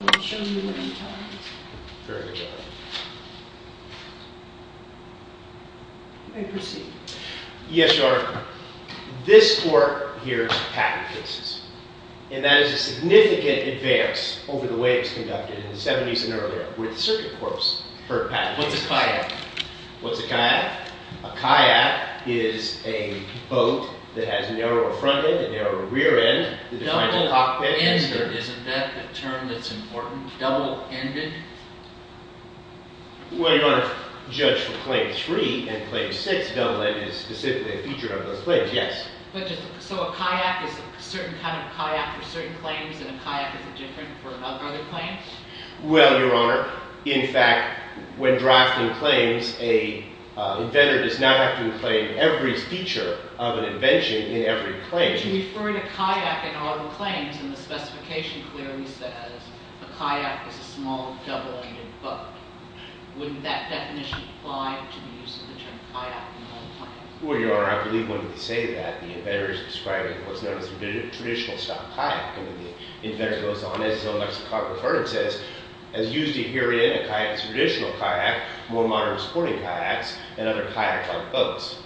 I'll show you what I'm talking about. Very good. May I proceed? Yes, Your Honor. This court here's patent cases. And that is a significant advance over the way it was conducted in the 70s and earlier, with circuit courts for patent cases. What's a kayak? What's a kayak? A kayak is a boat that has a narrower front end, a narrower rear end. Double-ended, isn't that the term that's important? Double-ended? Well, Your Honor, judge for Claim 3 and Claim 6, double-ended is specifically a feature of those claims, yes. So a kayak is a certain kind of kayak for certain claims, and a kayak is different for other claims? Well, Your Honor, in fact, when drafting claims, an inventor does not have to include every feature of an invention in every claim. But if you refer to kayak in all claims, and the specification clearly says a kayak is a small, double-ended boat, wouldn't that definition apply to the use of the term kayak in all claims? Well, Your Honor, I believe when we say that, the inventor is describing what's known as a traditional-style kayak. And the inventor goes on, as his own lexicographer says, as used to herein, a kayak is a traditional kayak, more modern sporting kayaks, and other kayaks aren't boats.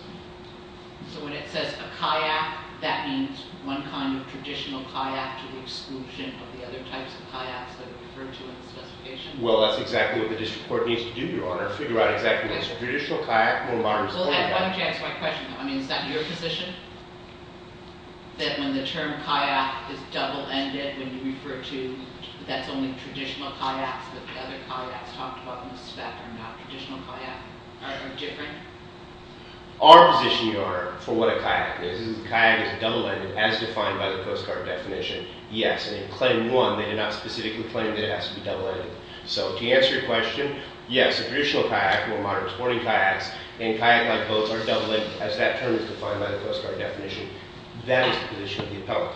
So when it says a kayak, that means one kind of traditional kayak to the exclusion of the other types of kayaks that are referred to in the specification? Well, that's exactly what the district court needs to do, Your Honor, figure out exactly what's a traditional kayak, more modern sporting kayak. Well, I want you to answer my question, though. I mean, is that your position? That when the term kayak is double-ended, when you refer to, that's only traditional kayaks, that the other kayaks talked about in the spec are not traditional kayaks, are different? Our position, Your Honor, for what a kayak is, is a kayak is double-ended, as defined by the Coast Guard definition. Yes, and in Claim 1, they did not specifically claim that it has to be double-ended. So, to answer your question, yes, a traditional kayak, more modern sporting kayaks, and kayak-like boats are double-ended, as that term is defined by the Coast Guard definition. That is the position of the appellate.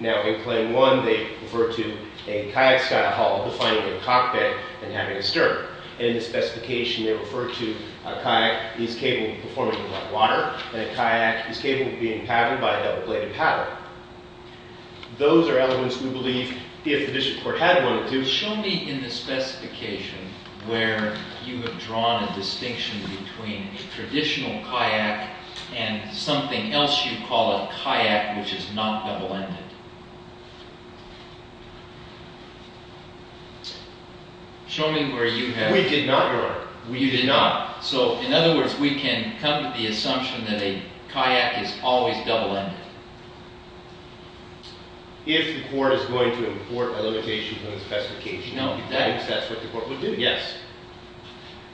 Now, in Claim 1, they refer to a kayak style hull, defining a cockpit, and having a stern. In the specification, they refer to a kayak is capable of performing underwater, and a kayak is capable of being paddled by a double-bladed paddle. Those are elements we believe, if the district court had wanted to... Something else you call a kayak, which is not double-ended. Show me where you have... We did not, Your Honor. We did not. So, in other words, we can come to the assumption that a kayak is always double-ended. If the court is going to import a limitation from the specification, that's what the court would do, yes.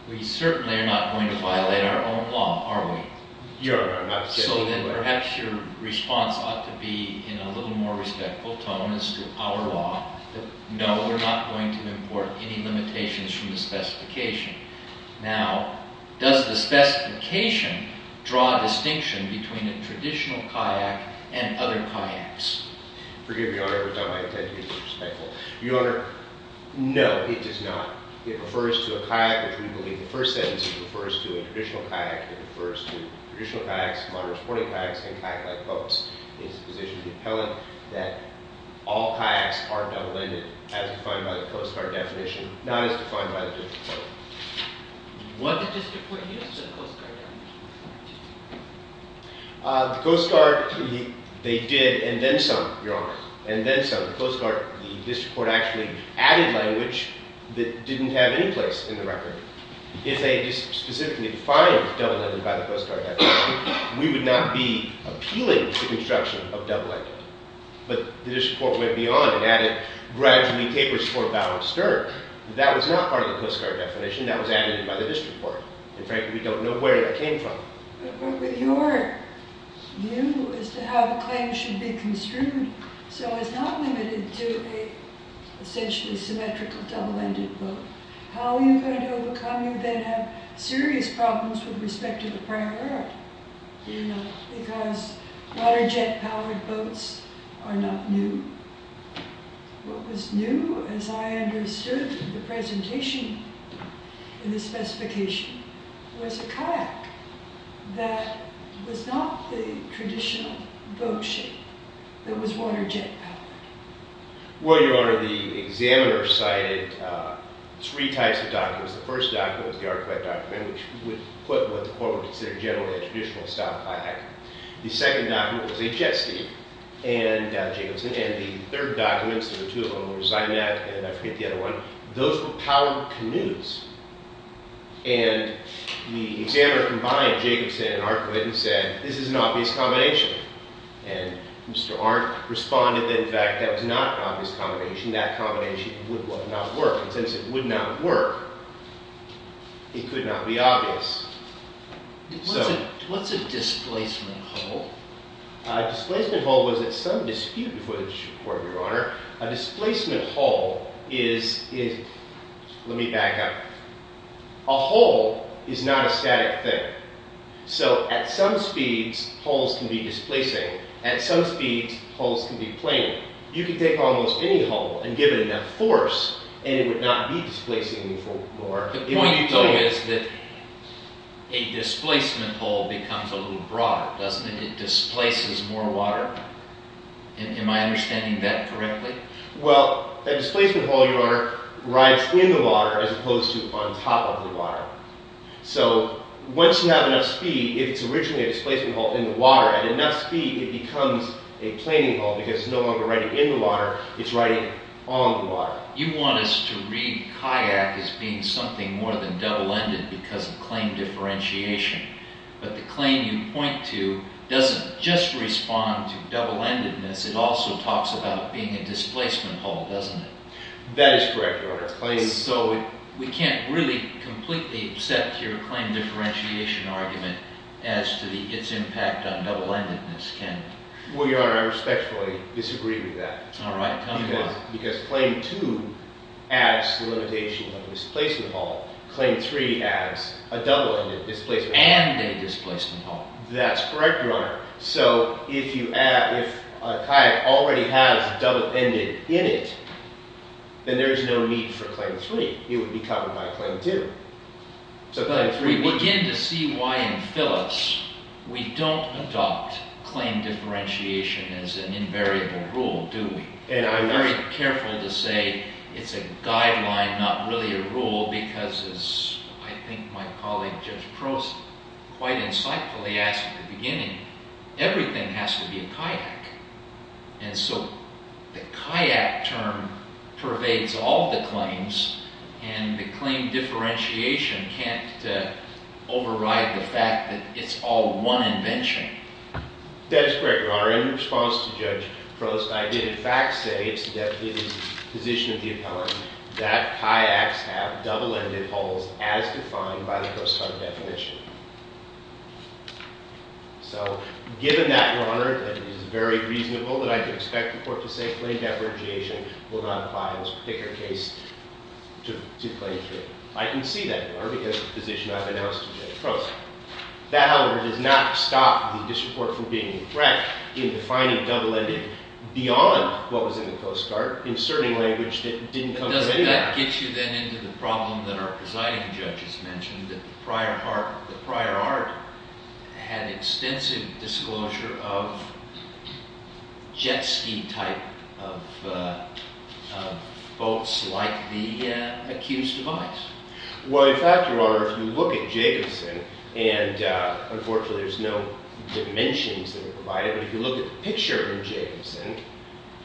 We certainly are not going to violate our own law, are we? Your Honor, I'm not... So then, perhaps your response ought to be in a little more respectful tone as to our law, that no, we're not going to import any limitations from the specification. Now, does the specification draw a distinction between a traditional kayak and other kayaks? Forgive me, Your Honor, but not my intent to be disrespectful. Your Honor, no, it does not. It refers to a kayak, which we believe, the first sentence, it refers to a traditional kayak. It refers to traditional kayaks, modern sporting kayaks, and kayak-like boats. It's the position of the appellant that all kayaks are double-ended, as defined by the Coast Guard definition, not as defined by the district court. What did the district court use for the Coast Guard definition? The Coast Guard, they did, and then some, Your Honor, and then some. The Coast Guard, the district court actually added language that didn't have any place in the record. If they had just specifically defined double-ended by the Coast Guard definition, we would not be appealing to the construction of double-ended. But the district court went beyond and added gradually tapers for bow and stern. That was not part of the Coast Guard definition. That was added by the district court. And frankly, we don't know where that came from. Your view as to how the claim should be construed, so it's not limited to a essentially symmetrical double-ended boat. How are you going to overcome, you then have serious problems with respect to the prior error, because water jet-powered boats are not new. What was new, as I understood the presentation in the specification, was a kayak. That was not the traditional boat shape. It was water jet-powered. Well, Your Honor, the examiner cited three types of documents. The first document was the artifact document, which would put what the court would consider generally a traditional style kayak. The second document was a jet ski. And the third document, so the two of them were Zymat, and I forget the other one, those were powered canoes. And the examiner combined Jacobson and Arquette and said, this is an obvious combination. And Mr. Arndt responded that, in fact, that was not an obvious combination. That combination would not work. And since it would not work, it could not be obvious. What's a displacement hull? A displacement hull was at some dispute before the court, Your Honor. A displacement hull is, let me back up. A hull is not a static thing. So at some speeds, hulls can be displacing. At some speeds, hulls can be plane. You can take almost any hull and give it enough force, and it would not be displacing anymore. The point you're telling me is that a displacement hull becomes a little broader, doesn't it? It displaces more water. Am I understanding that correctly? Well, a displacement hull, Your Honor, rides in the water as opposed to on top of the water. So once you have enough speed, if it's originally a displacement hull in the water, at enough speed it becomes a planing hull because it's no longer riding in the water, it's riding on the water. You want us to read kayak as being something more than double-ended because of claim differentiation. But the claim you point to doesn't just respond to double-endedness, it also talks about being a displacement hull, doesn't it? That is correct, Your Honor. So we can't really completely accept your claim differentiation argument as to its impact on double-endedness, can we? Well, Your Honor, I respectfully disagree with that. All right. Tell me why. Because claim two adds the limitation of a displacement hull. Claim three adds a double-ended displacement hull. And a displacement hull. That's correct, Your Honor. So if a kayak already has a double-ended in it, then there is no need for claim three. It would be covered by claim two. But we begin to see why in Phyllis we don't adopt claim differentiation as an invariable rule, do we? And I'm very careful to say it's a guideline, not really a rule, because as I think my colleague, Judge Prost, quite insightfully asked at the beginning, everything has to be a kayak. And so the kayak term pervades all the claims, and the claim differentiation can't override the fact that it's all one invention. That is correct, Your Honor. However, in response to Judge Prost, I did, in fact, say it's the position of the appellant that kayaks have double-ended hulls as defined by the Coast Guard definition. So given that, Your Honor, it is very reasonable that I can expect the court to say claim differentiation will not apply in this particular case to claim three. I can see that, Your Honor, because of the position I've announced to Judge Prost. That, however, does not stop the disreport from being correct in defining double-ended beyond what was in the Coast Guard in certain language that didn't come from anywhere. Doesn't that get you then into the problem that our presiding judge has mentioned, that the prior art had extensive disclosure of jet-ski type of boats like the accused device? Well, in fact, Your Honor, if you look at Jacobson, and unfortunately, there's no dimensions that are provided, but if you look at the picture in Jacobson,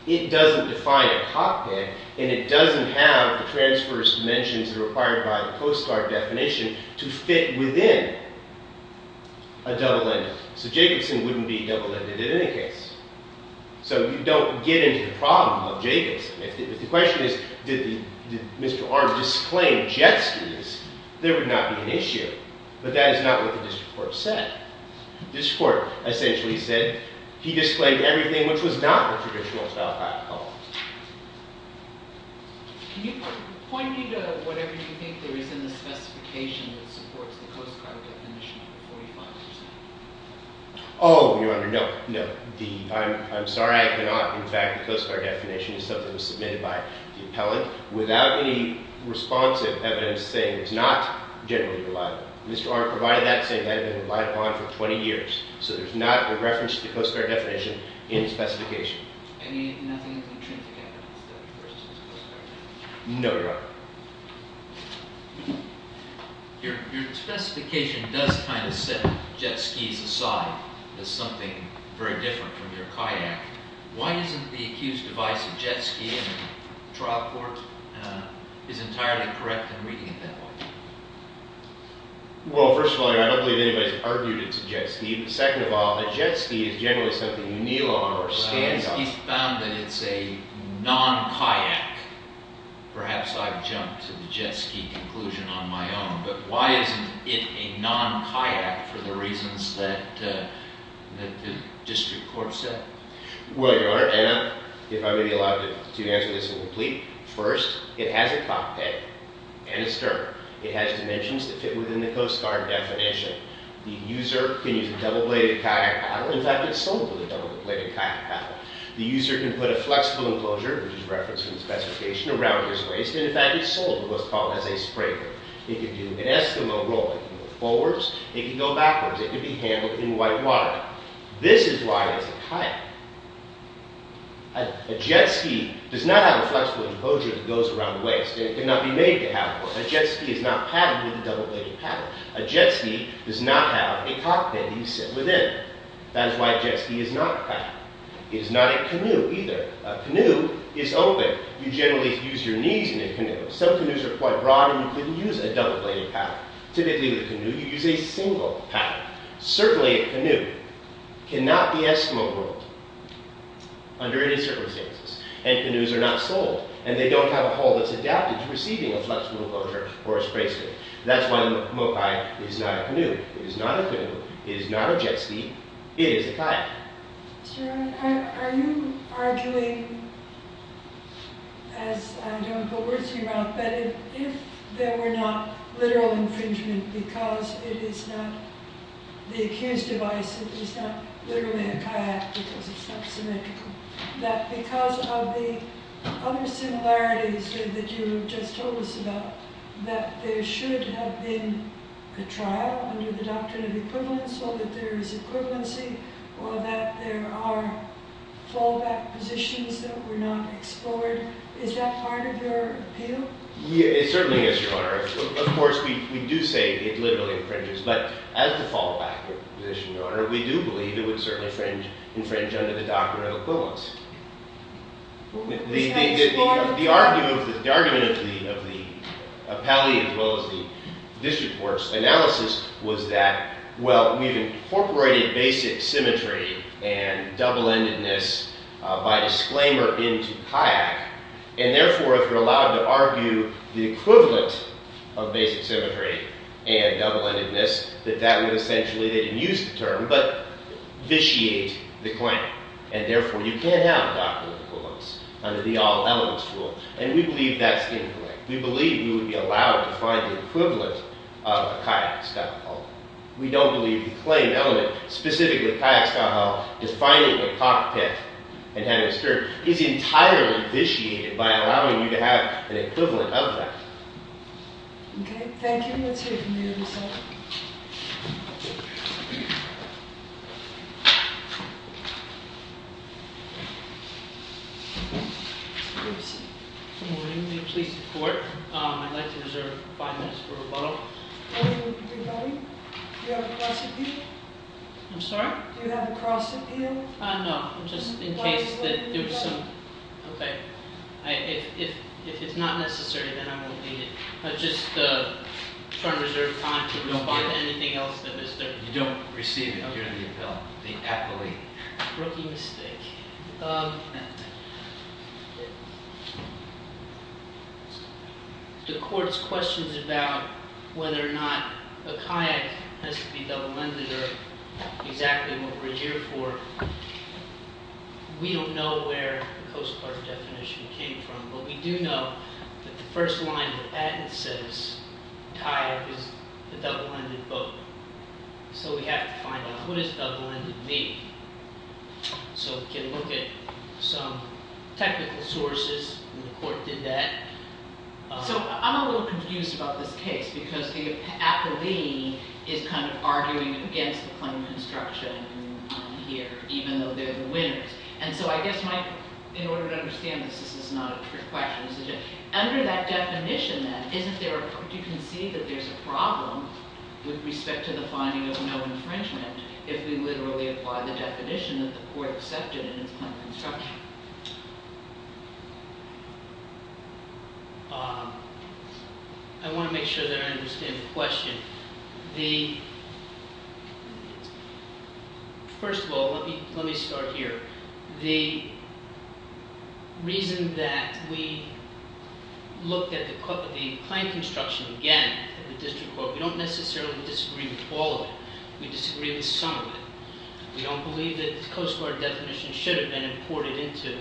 it doesn't define a cockpit, and it doesn't have the transverse dimensions that are required by the Coast Guard definition to fit within a double-ended. So Jacobson wouldn't be double-ended in any case. So you don't get into the problem of Jacobson. But the question is, did Mr. Arm disclaim jet-skis? There would not be an issue. But that is not what the disreport said. The disreport essentially said he disclaimed everything which was not the traditional style type of boats. Can you point me to whatever you think there is in the specification that supports the Coast Guard definition of 45%? Oh, Your Honor, no, no. I'm sorry, I cannot. In fact, the Coast Guard definition is something that was submitted by the appellant without any responsive evidence saying it's not generally reliable. Mr. Arm provided that saying that had been relied upon for 20 years. So there's not a reference to the Coast Guard definition in the specification. I mean, nothing is intrinsic evidence that it refers to the Coast Guard definition? No, Your Honor. Your specification does kind of set jet-skis aside as something very different from your kayak. Why isn't the accused device of jet-ski in the trial court is entirely correct in reading it that way? Well, first of all, Your Honor, I don't believe anybody has argued it's a jet-ski. Second of all, a jet-ski is generally something you kneel on or stand on. He's found that it's a non-kayak. Perhaps I've jumped to the jet-ski conclusion on my own, but why isn't it a non-kayak for the reasons that the district court said? Well, Your Honor, Anna, if I may be allowed to answer this in complete. First, it has a cockpit and a stern. It has dimensions that fit within the Coast Guard definition. The user can use a double-bladed kayak paddle. In fact, it's sold with a double-bladed kayak paddle. The user can put a flexible enclosure, which is referenced in the specification, around his waist, and in fact, it's sold with what's called a sprayer. It can do an Eskimo roll. It can go forwards. It can go backwards. It can be handled in white water. This is why it's a kayak. A jet-ski does not have a flexible enclosure that goes around the waist, and it cannot be made to have one. A jet-ski is not padded with a double-bladed paddle. A jet-ski does not have a cockpit that you sit within. That is why a jet-ski is not a kayak. It is not a canoe, either. A canoe is open. You generally use your knees in a canoe. Some canoes are quite broad, and you can use a double-bladed paddle. Typically, with a canoe, you use a single paddle. Certainly, a canoe cannot be Eskimo rolled under any circumstances, and canoes are not sold, and they don't have a hull that's adapted to receiving a flexible enclosure or a sprayer. That's why the Mokai is not a canoe. It is not a canoe. It is not a jet-ski. It is a kayak. Sir, are you arguing, as I don't know what you're asking about, that if there were not literal infringement because it is not the accused device, it is not literally a kayak because it's not symmetrical, that because of the other similarities that you have just told us about, that there should have been a trial under the doctrine of equivalence so that there is equivalency, or that there are fallback positions that were not explored. Is that part of your appeal? Certainly, yes, Your Honor. Of course, we do say it literally infringes, but as the fallback position, Your Honor, we do believe it would certainly infringe under the doctrine of equivalence. The argument of the appellee as well as the district court's analysis was that, well, we've incorporated basic symmetry and double-endedness by disclaimer into kayak, and therefore if you're allowed to argue the equivalent of basic symmetry and double-endedness, that that would essentially, they didn't use the term, but vitiate the claim, and therefore you can't have a doctrine of equivalence under the all-elements rule, and we believe that's incorrect. We believe we would be allowed to find the equivalent of a kayak style hull. We don't believe the claim element, specifically kayak style hull, defining a cockpit and having a skirt, is entirely vitiated by allowing you to have an equivalent of that. Okay, thank you. Let's hear from your result. Good morning. May you please report? I'd like to reserve five minutes for rebuttal. Do you have a cross appeal? I'm sorry? Do you have a cross appeal? No, just in case that there was some- Okay, if it's not necessary, then I won't need it. I'm just trying to reserve time to respond to anything else that is there. You don't receive it. You're the appellee. Rookie mistake. The court's questions about whether or not a kayak has to be double-ended are exactly what we're here for. We don't know where the Coast Guard definition came from, but we do know that the first line that says kayak is a double-ended boat, so we have to find out what does double-ended mean. We can look at some technical sources. The court did that. I'm a little confused about this case because the appellee is kind of arguing against the claim of construction here, even though they're the winners. I guess, Mike, in order to understand this, this is not a trick question. Under that definition, then, you can see that there's a problem with respect to the finding of no infringement if we literally apply the definition that the court accepted in its claim of construction. I want to make sure that I understand the question. First of all, let me start here. The reason that we looked at the claim of construction again in the district court, we don't necessarily disagree with all of it. We disagree with some of it. We don't believe that the Coast Guard definition should have been imported into it.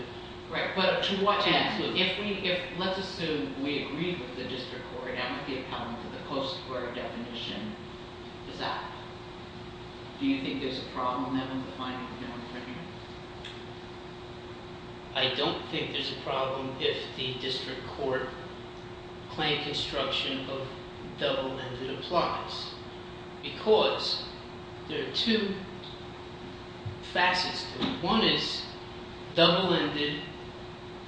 Let's assume we agree with the district court and with the appellant that the Coast Guard definition is out. Do you think there's a problem then with the finding of no infringement? I don't think there's a problem if the district court claim of construction of double-ended applies because there are two facets to it. One is double-ended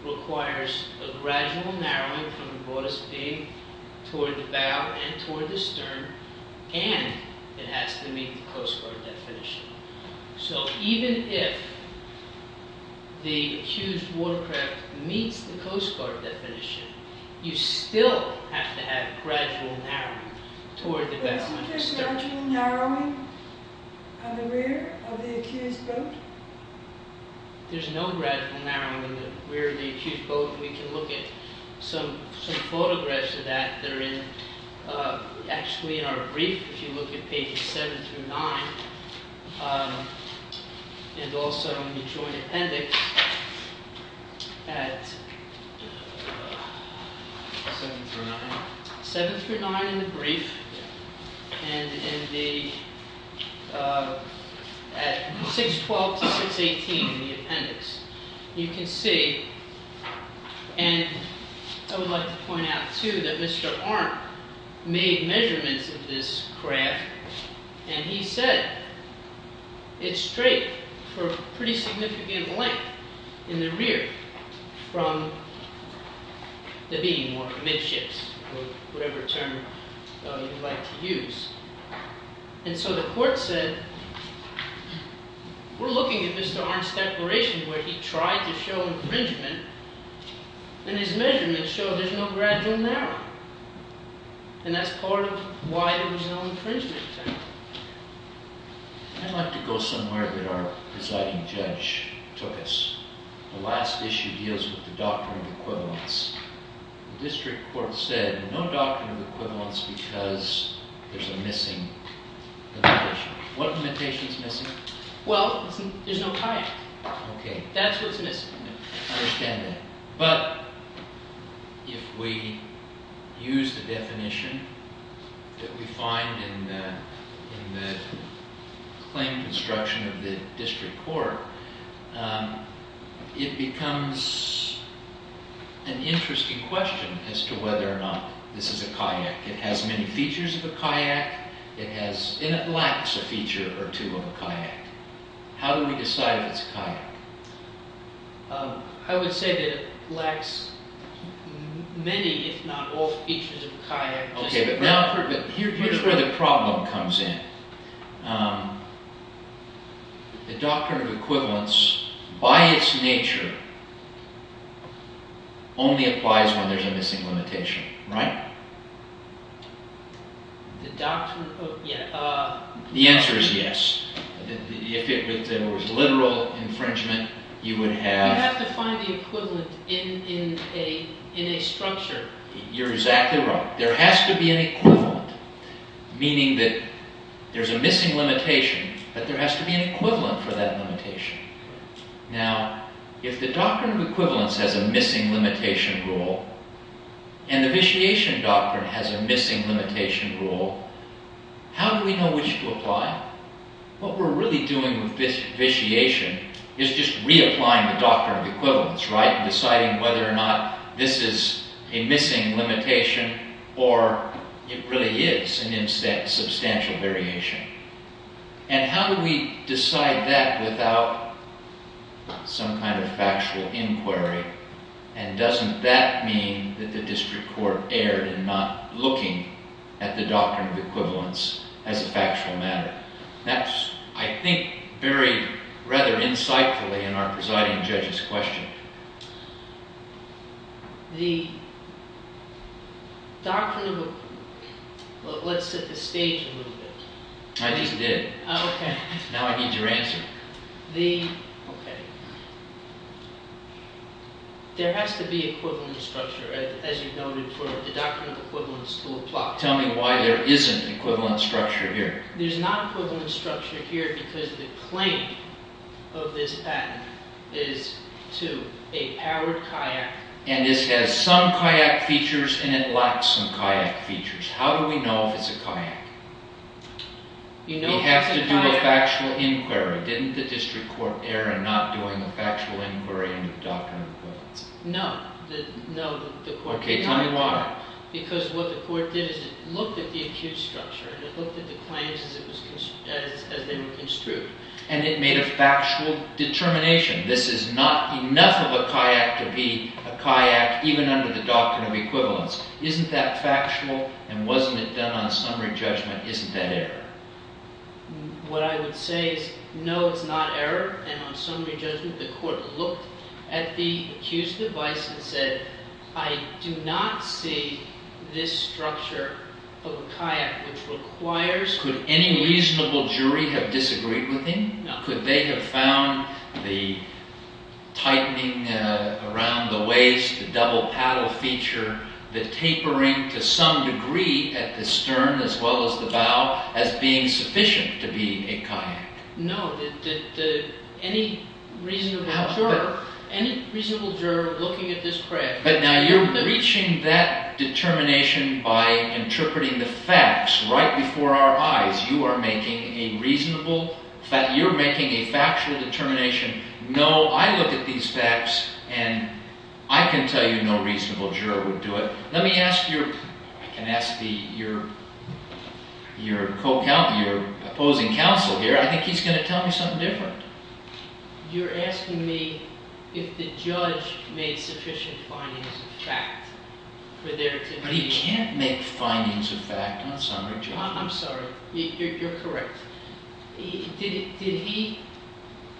requires a gradual narrowing from the broadest beam toward the bow and toward the stern, and it has to meet the Coast Guard definition. So even if the accused watercraft meets the Coast Guard definition, you still have to have gradual narrowing toward the bow and the stern. Isn't there gradual narrowing on the rear of the accused boat? There's no gradual narrowing on the rear of the accused boat. We can look at some photographs of that that are actually in our brief. If you look at pages 7 through 9 and also in the joint appendix at 7 through 9 in the brief and at 612 to 618 in the appendix, you can see, and I would like to point out too that Mr. Arndt made measurements of this craft and he said it's straight for a pretty significant length in the rear from the beam or midships or whatever term you like to use. And so the court said, we're looking at Mr. Arndt's declaration where he tried to show infringement and his measurements show there's no gradual narrowing. And that's part of why there was no infringement. I'd like to go somewhere that our presiding judge took us. The district court said no doctrine of equivalence because there's a missing limitation. What limitation is missing? Well, there's no kayak. Okay. That's what's missing. I understand that. But if we use the definition that we find in the claim construction of the district court, it becomes an interesting question as to whether or not this is a kayak. It has many features of a kayak and it lacks a feature or two of a kayak. How do we decide if it's a kayak? I would say that it lacks many if not all features of a kayak. Okay, but here's where the problem comes in. The doctrine of equivalence by its nature only applies when there's a missing limitation, right? The answer is yes. If there was literal infringement, you would have... You have to find the equivalent in a structure. You're exactly right. There has to be an equivalent, meaning that there's a missing limitation, but there has to be an equivalent for that limitation. Now, if the doctrine of equivalence has a missing limitation rule and the vitiation doctrine has a missing limitation rule, how do we know which to apply? What we're really doing with this vitiation is just reapplying the doctrine of equivalence, right? This is a missing limitation or it really is a substantial variation. And how do we decide that without some kind of factual inquiry? And doesn't that mean that the district court erred in not looking at the doctrine of equivalence as a factual matter? That's, I think, buried rather insightfully in our presiding judge's question. The doctrine of... Let's set the stage a little bit. I just did. Okay. Now I need your answer. The... Okay. There has to be equivalent structure, as you noted, for the doctrine of equivalence to apply. Tell me why there isn't equivalent structure here. There's not equivalent structure here because the claim of this patent is to a powered kayak... And this has some kayak features and it lacks some kayak features. How do we know if it's a kayak? You have to do a factual inquiry. Didn't the district court err in not doing a factual inquiry into the doctrine of equivalence? No. Okay, tell me why. Because what the court did is it looked at the acute structure and it looked at the claims as they were construed. And it made a factual determination. This is not enough of a kayak to be a kayak even under the doctrine of equivalence. Isn't that factual? And wasn't it done on summary judgment? Isn't that error? What I would say is no, it's not error. And on summary judgment, the court looked at the accused's advice and said, I do not see this structure of a kayak which requires... Could any reasonable jury have disagreed with him? No. Could they have found the tightening around the waist, the double paddle feature, the tapering to some degree at the stern as well as the bow as being sufficient to be a kayak? No. Any reasonable juror looking at this... But now you're breaching that determination by interpreting the facts right before our eyes. You are making a reasonable... You're making a factual determination. No, I look at these facts and I can tell you no reasonable juror would do it. Let me ask your opposing counsel here. I think he's going to tell me something different. You're asking me if the judge made sufficient findings of fact for there to be... But he can't make findings of fact on summary judgment. I'm sorry. You're correct. Did he...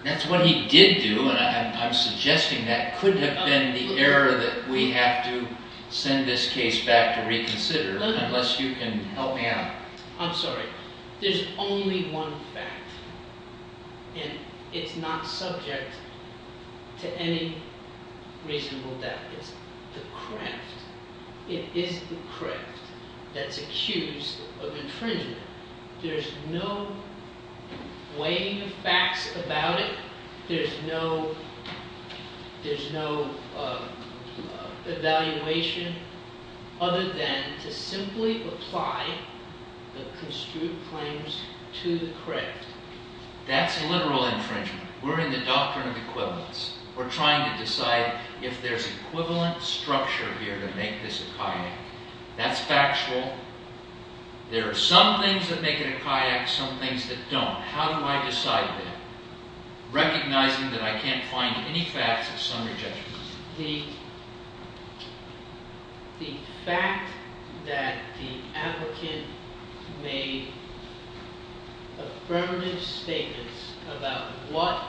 That's what he did do and I'm suggesting that could have been the error that we have to send this case back to reconsider unless you can help me out. I'm sorry. There's only one fact and it's not subject to any reasonable doubt. It's the creft. It is the creft that's accused of infringement. There's no weighing of facts about it. There's no evaluation other than to simply apply the construed claims to the creft. That's literal infringement. We're in the doctrine of equivalence. We're trying to decide if there's equivalent structure here to make this a kayak. That's factual. There are some things that make it a kayak, some things that don't. How do I decide that? Recognizing that I can't find any facts of summary judgment. The fact that the applicant made affirmative statements about what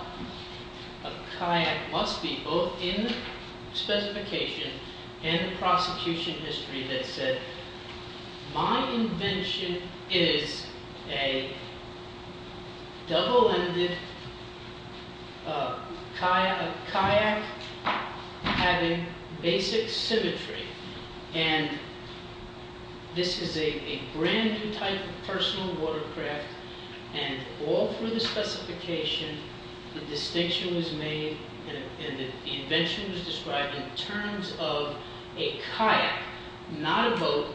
a kayak must be both in the specification and the prosecution history that said, My invention is a double-ended kayak having basic symmetry. This is a brand new type of personal watercraft. All through the specification, the distinction was made and the invention was described in terms of a kayak, not a boat,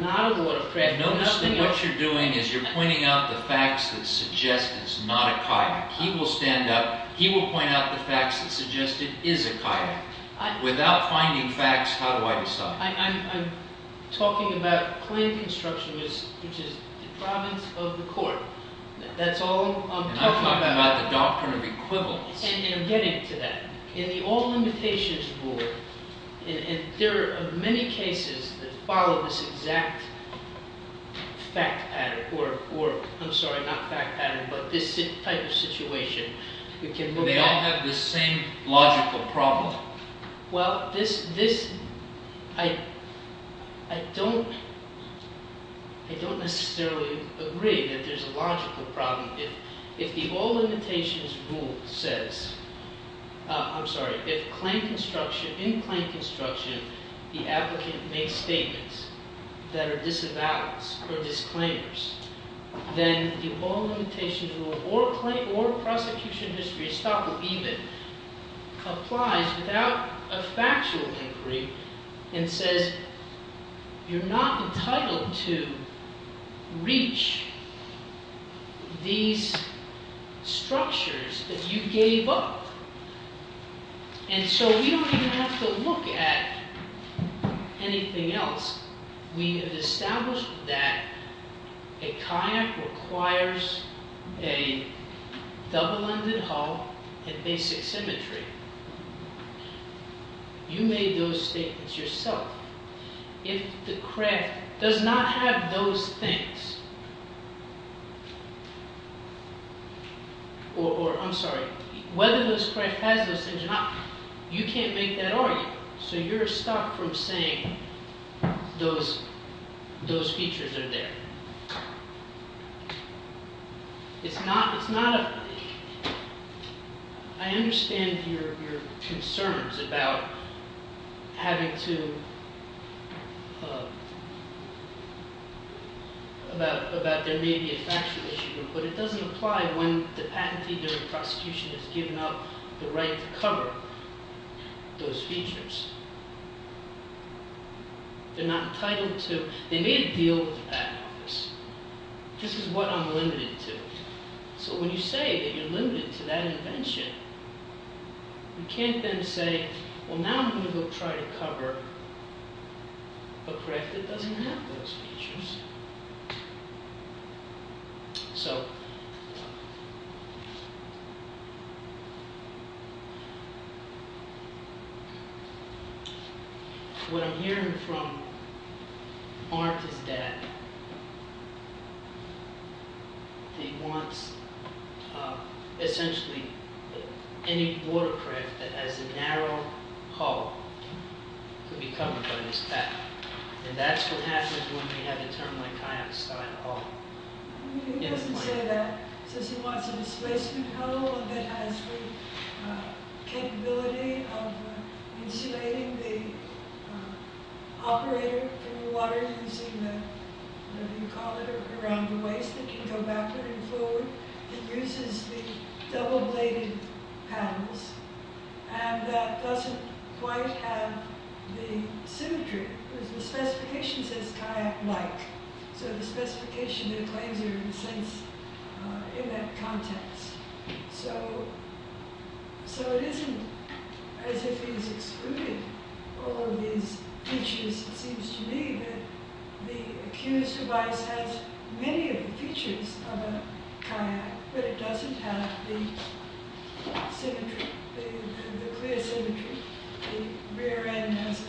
not a watercraft. Notice that what you're doing is you're pointing out the facts that suggest it's not a kayak. He will stand up. He will point out the facts that suggest it is a kayak. Without finding facts, how do I decide? I'm talking about claim construction, which is the province of the court. That's all I'm talking about. I'm talking about the doctrine of equivalence. I'm getting to that. In the All Limitations Rule, there are many cases that follow this exact fact pattern. Do they all have the same logical problem? I don't necessarily agree that there's a logical problem. If the All Limitations Rule says, I'm sorry, if in claim construction, the applicant makes statements that are disavowals or disclaimers, then the All Limitations Rule, or prosecution history, estoppel, even, applies without a factual inquiry and says, you're not entitled to reach these structures that you gave up. And so we don't even have to look at anything else. We have established that a kayak requires a double-ended hull and basic symmetry. You made those statements yourself. If the craft does not have those things, or I'm sorry, whether this craft has those things or not, you can't make that argument. So you're stopped from saying those features are there. It's not a – I understand your concerns about having to – about there may be a factual issue. But it doesn't apply when the patentee or the prosecution has given up the right to cover those features. They're not entitled to – they made a deal with the patent office. This is what I'm limited to. So when you say that you're limited to that invention, you can't then say, well, now I'm going to go try to cover a craft that doesn't have those features. So what I'm hearing from Martha's dad, he wants essentially any watercraft that has a narrow hull to be covered by this patent. And that's what happens when we have a term like kayak style. He doesn't say that. He says he wants a displacement hull that has the capability of insulating the operator from the water using the – whatever you call it – around the waist. It can go backward and forward. It uses the double-bladed panels. And that doesn't quite have the symmetry. The specification says kayak-like. So the specification claims are, in a sense, in that context. So it isn't as if he's excluding all of these features. It seems to me that the Accused device has many of the features of a kayak, but it doesn't have the symmetry, the clear symmetry. The rear end is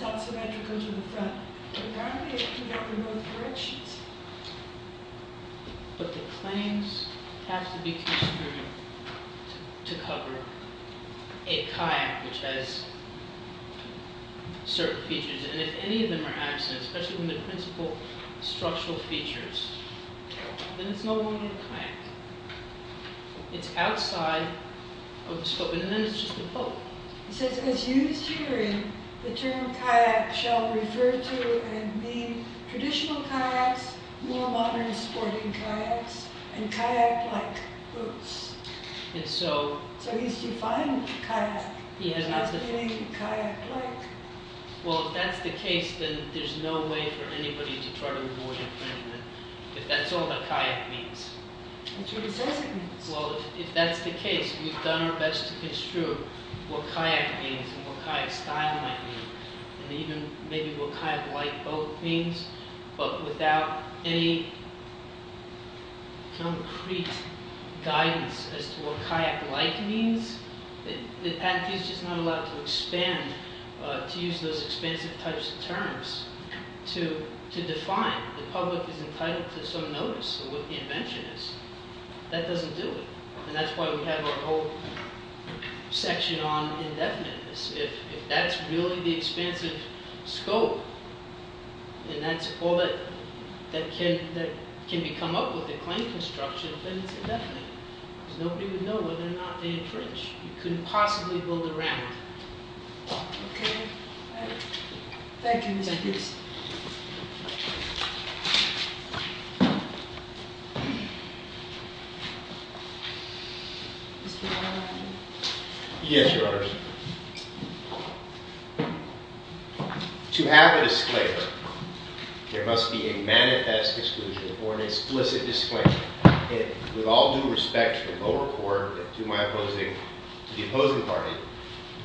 not symmetrical to the front. But now they can go in both directions. But the claims have to be construed to cover a kayak which has certain features. And if any of them are absent, especially when they're principal structural features, then it's no longer a kayak. It's outside of the scope. He says, as used herein, the term kayak shall refer to and mean traditional kayaks, more modern sporting kayaks, and kayak-like boats. So he's defined kayak as not being kayak-like. Well, if that's the case, then there's no way for anybody to try to avoid infringement, if that's all that kayak means. Well, if that's the case, we've done our best to construe what kayak means and what kayak style might mean, and even maybe what kayak-like boat means. But without any concrete guidance as to what kayak-like means, the Accused is not allowed to expand, to use those expensive types of terms, to define. The public is entitled to some notice of what the invention is. That doesn't do it. And that's why we have our whole section on indefiniteness. If that's really the expansive scope, and that's all that can be come up with a claim construction, then it's indefinite. Because nobody would know whether or not they infringed. You couldn't possibly build around it. Okay. Thank you, Mr. Houston. Yes, Your Honors. To have a disclaimer, there must be a manifest exclusion or an explicit disclaimer. With all due respect to the lower court, to my opposing – to the opposing party,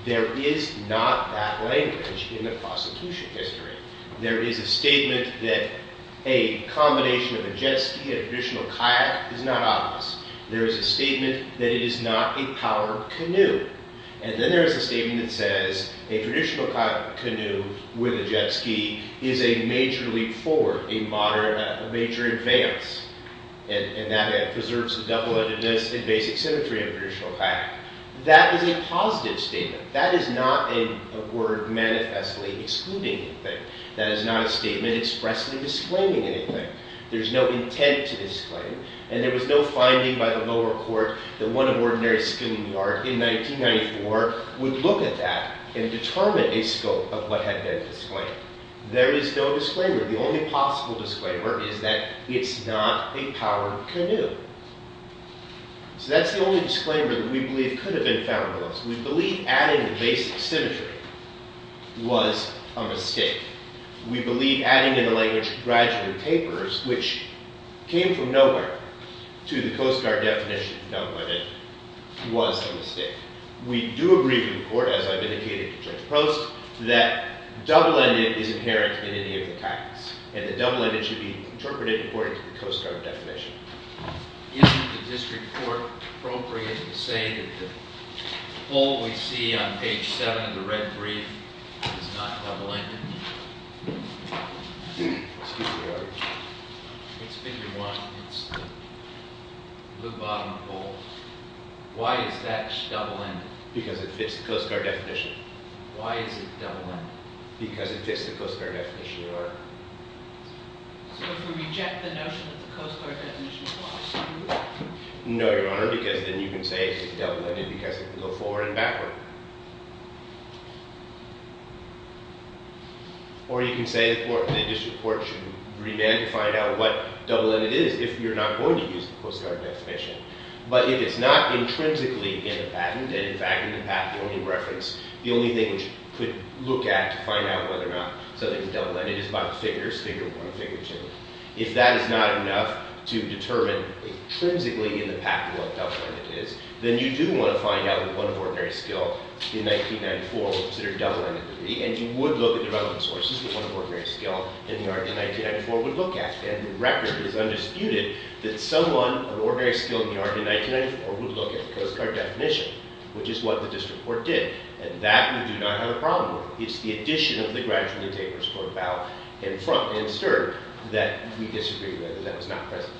there is not that language in the prosecution history. There is a statement that a combination of a jet ski and a traditional kayak is not obvious. There is a statement that it is not a power canoe. And then there is a statement that says a traditional canoe with a jet ski is a major leap forward, a major advance. And that it preserves the double-edgedness and basic symmetry of a traditional kayak. That is a positive statement. That is not a word manifestly excluding anything. That is not a statement expressly disclaiming anything. There is no intent to disclaim. And there was no finding by the lower court that one of ordinary schoolyard in 1994 would look at that and determine a scope of what had been disclaimed. There is no disclaimer. The only possible disclaimer is that it's not a power canoe. So that's the only disclaimer that we believe could have been found with us. We believe adding the basic symmetry was a mistake. We believe adding in the language of graduate papers, which came from nowhere, to the Coast Guard definition of double-ended was a mistake. We do agree with the court, as I've indicated to Judge Post, that double-ended is inherent in any of the kayaks. And that double-ended should be interpreted according to the Coast Guard definition. Isn't the district court appropriate to say that the pole we see on page 7 of the red brief is not double-ended? Excuse me, Your Honor. It's figure 1. It's the blue bottom pole. Why is that double-ended? Because it fits the Coast Guard definition. Why is it double-ended? Because it fits the Coast Guard definition, Your Honor. So if we reject the notion that the Coast Guard definition is false, do we lose? No, Your Honor, because then you can say it's double-ended because it can go forward and backward. Or you can say the district court should revamp and find out what double-ended is if you're not going to use the Coast Guard definition. But it is not intrinsically in the patent. And, in fact, in the patent only reference, the only thing which could look at to find out whether or not something is double-ended is by the figures, figure 1 and figure 2. If that is not enough to determine intrinsically in the patent what double-ended is, then you do want to find out what one of ordinary skill in 1994 would consider double-ended to be. And you would look at the relevant sources that one of ordinary skill in the art of 1994 would look at. And the record is undisputed that someone of ordinary skill in the art of 1994 would look at the Coast Guard definition, which is what the district court did. And that we do not have a problem with. It's the addition of the gradually tapered support bow and front and stern that we disagree with, and that was not present.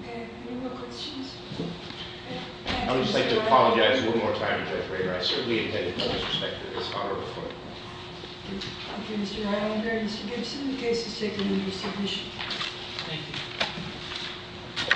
Okay, any more questions? I would just like to apologize one more time to Judge Rader. I certainly intended to disrespect her this honor before. Thank you, Mr. Rylander. Mr. Gibson, the case is taken into submission. Thank you.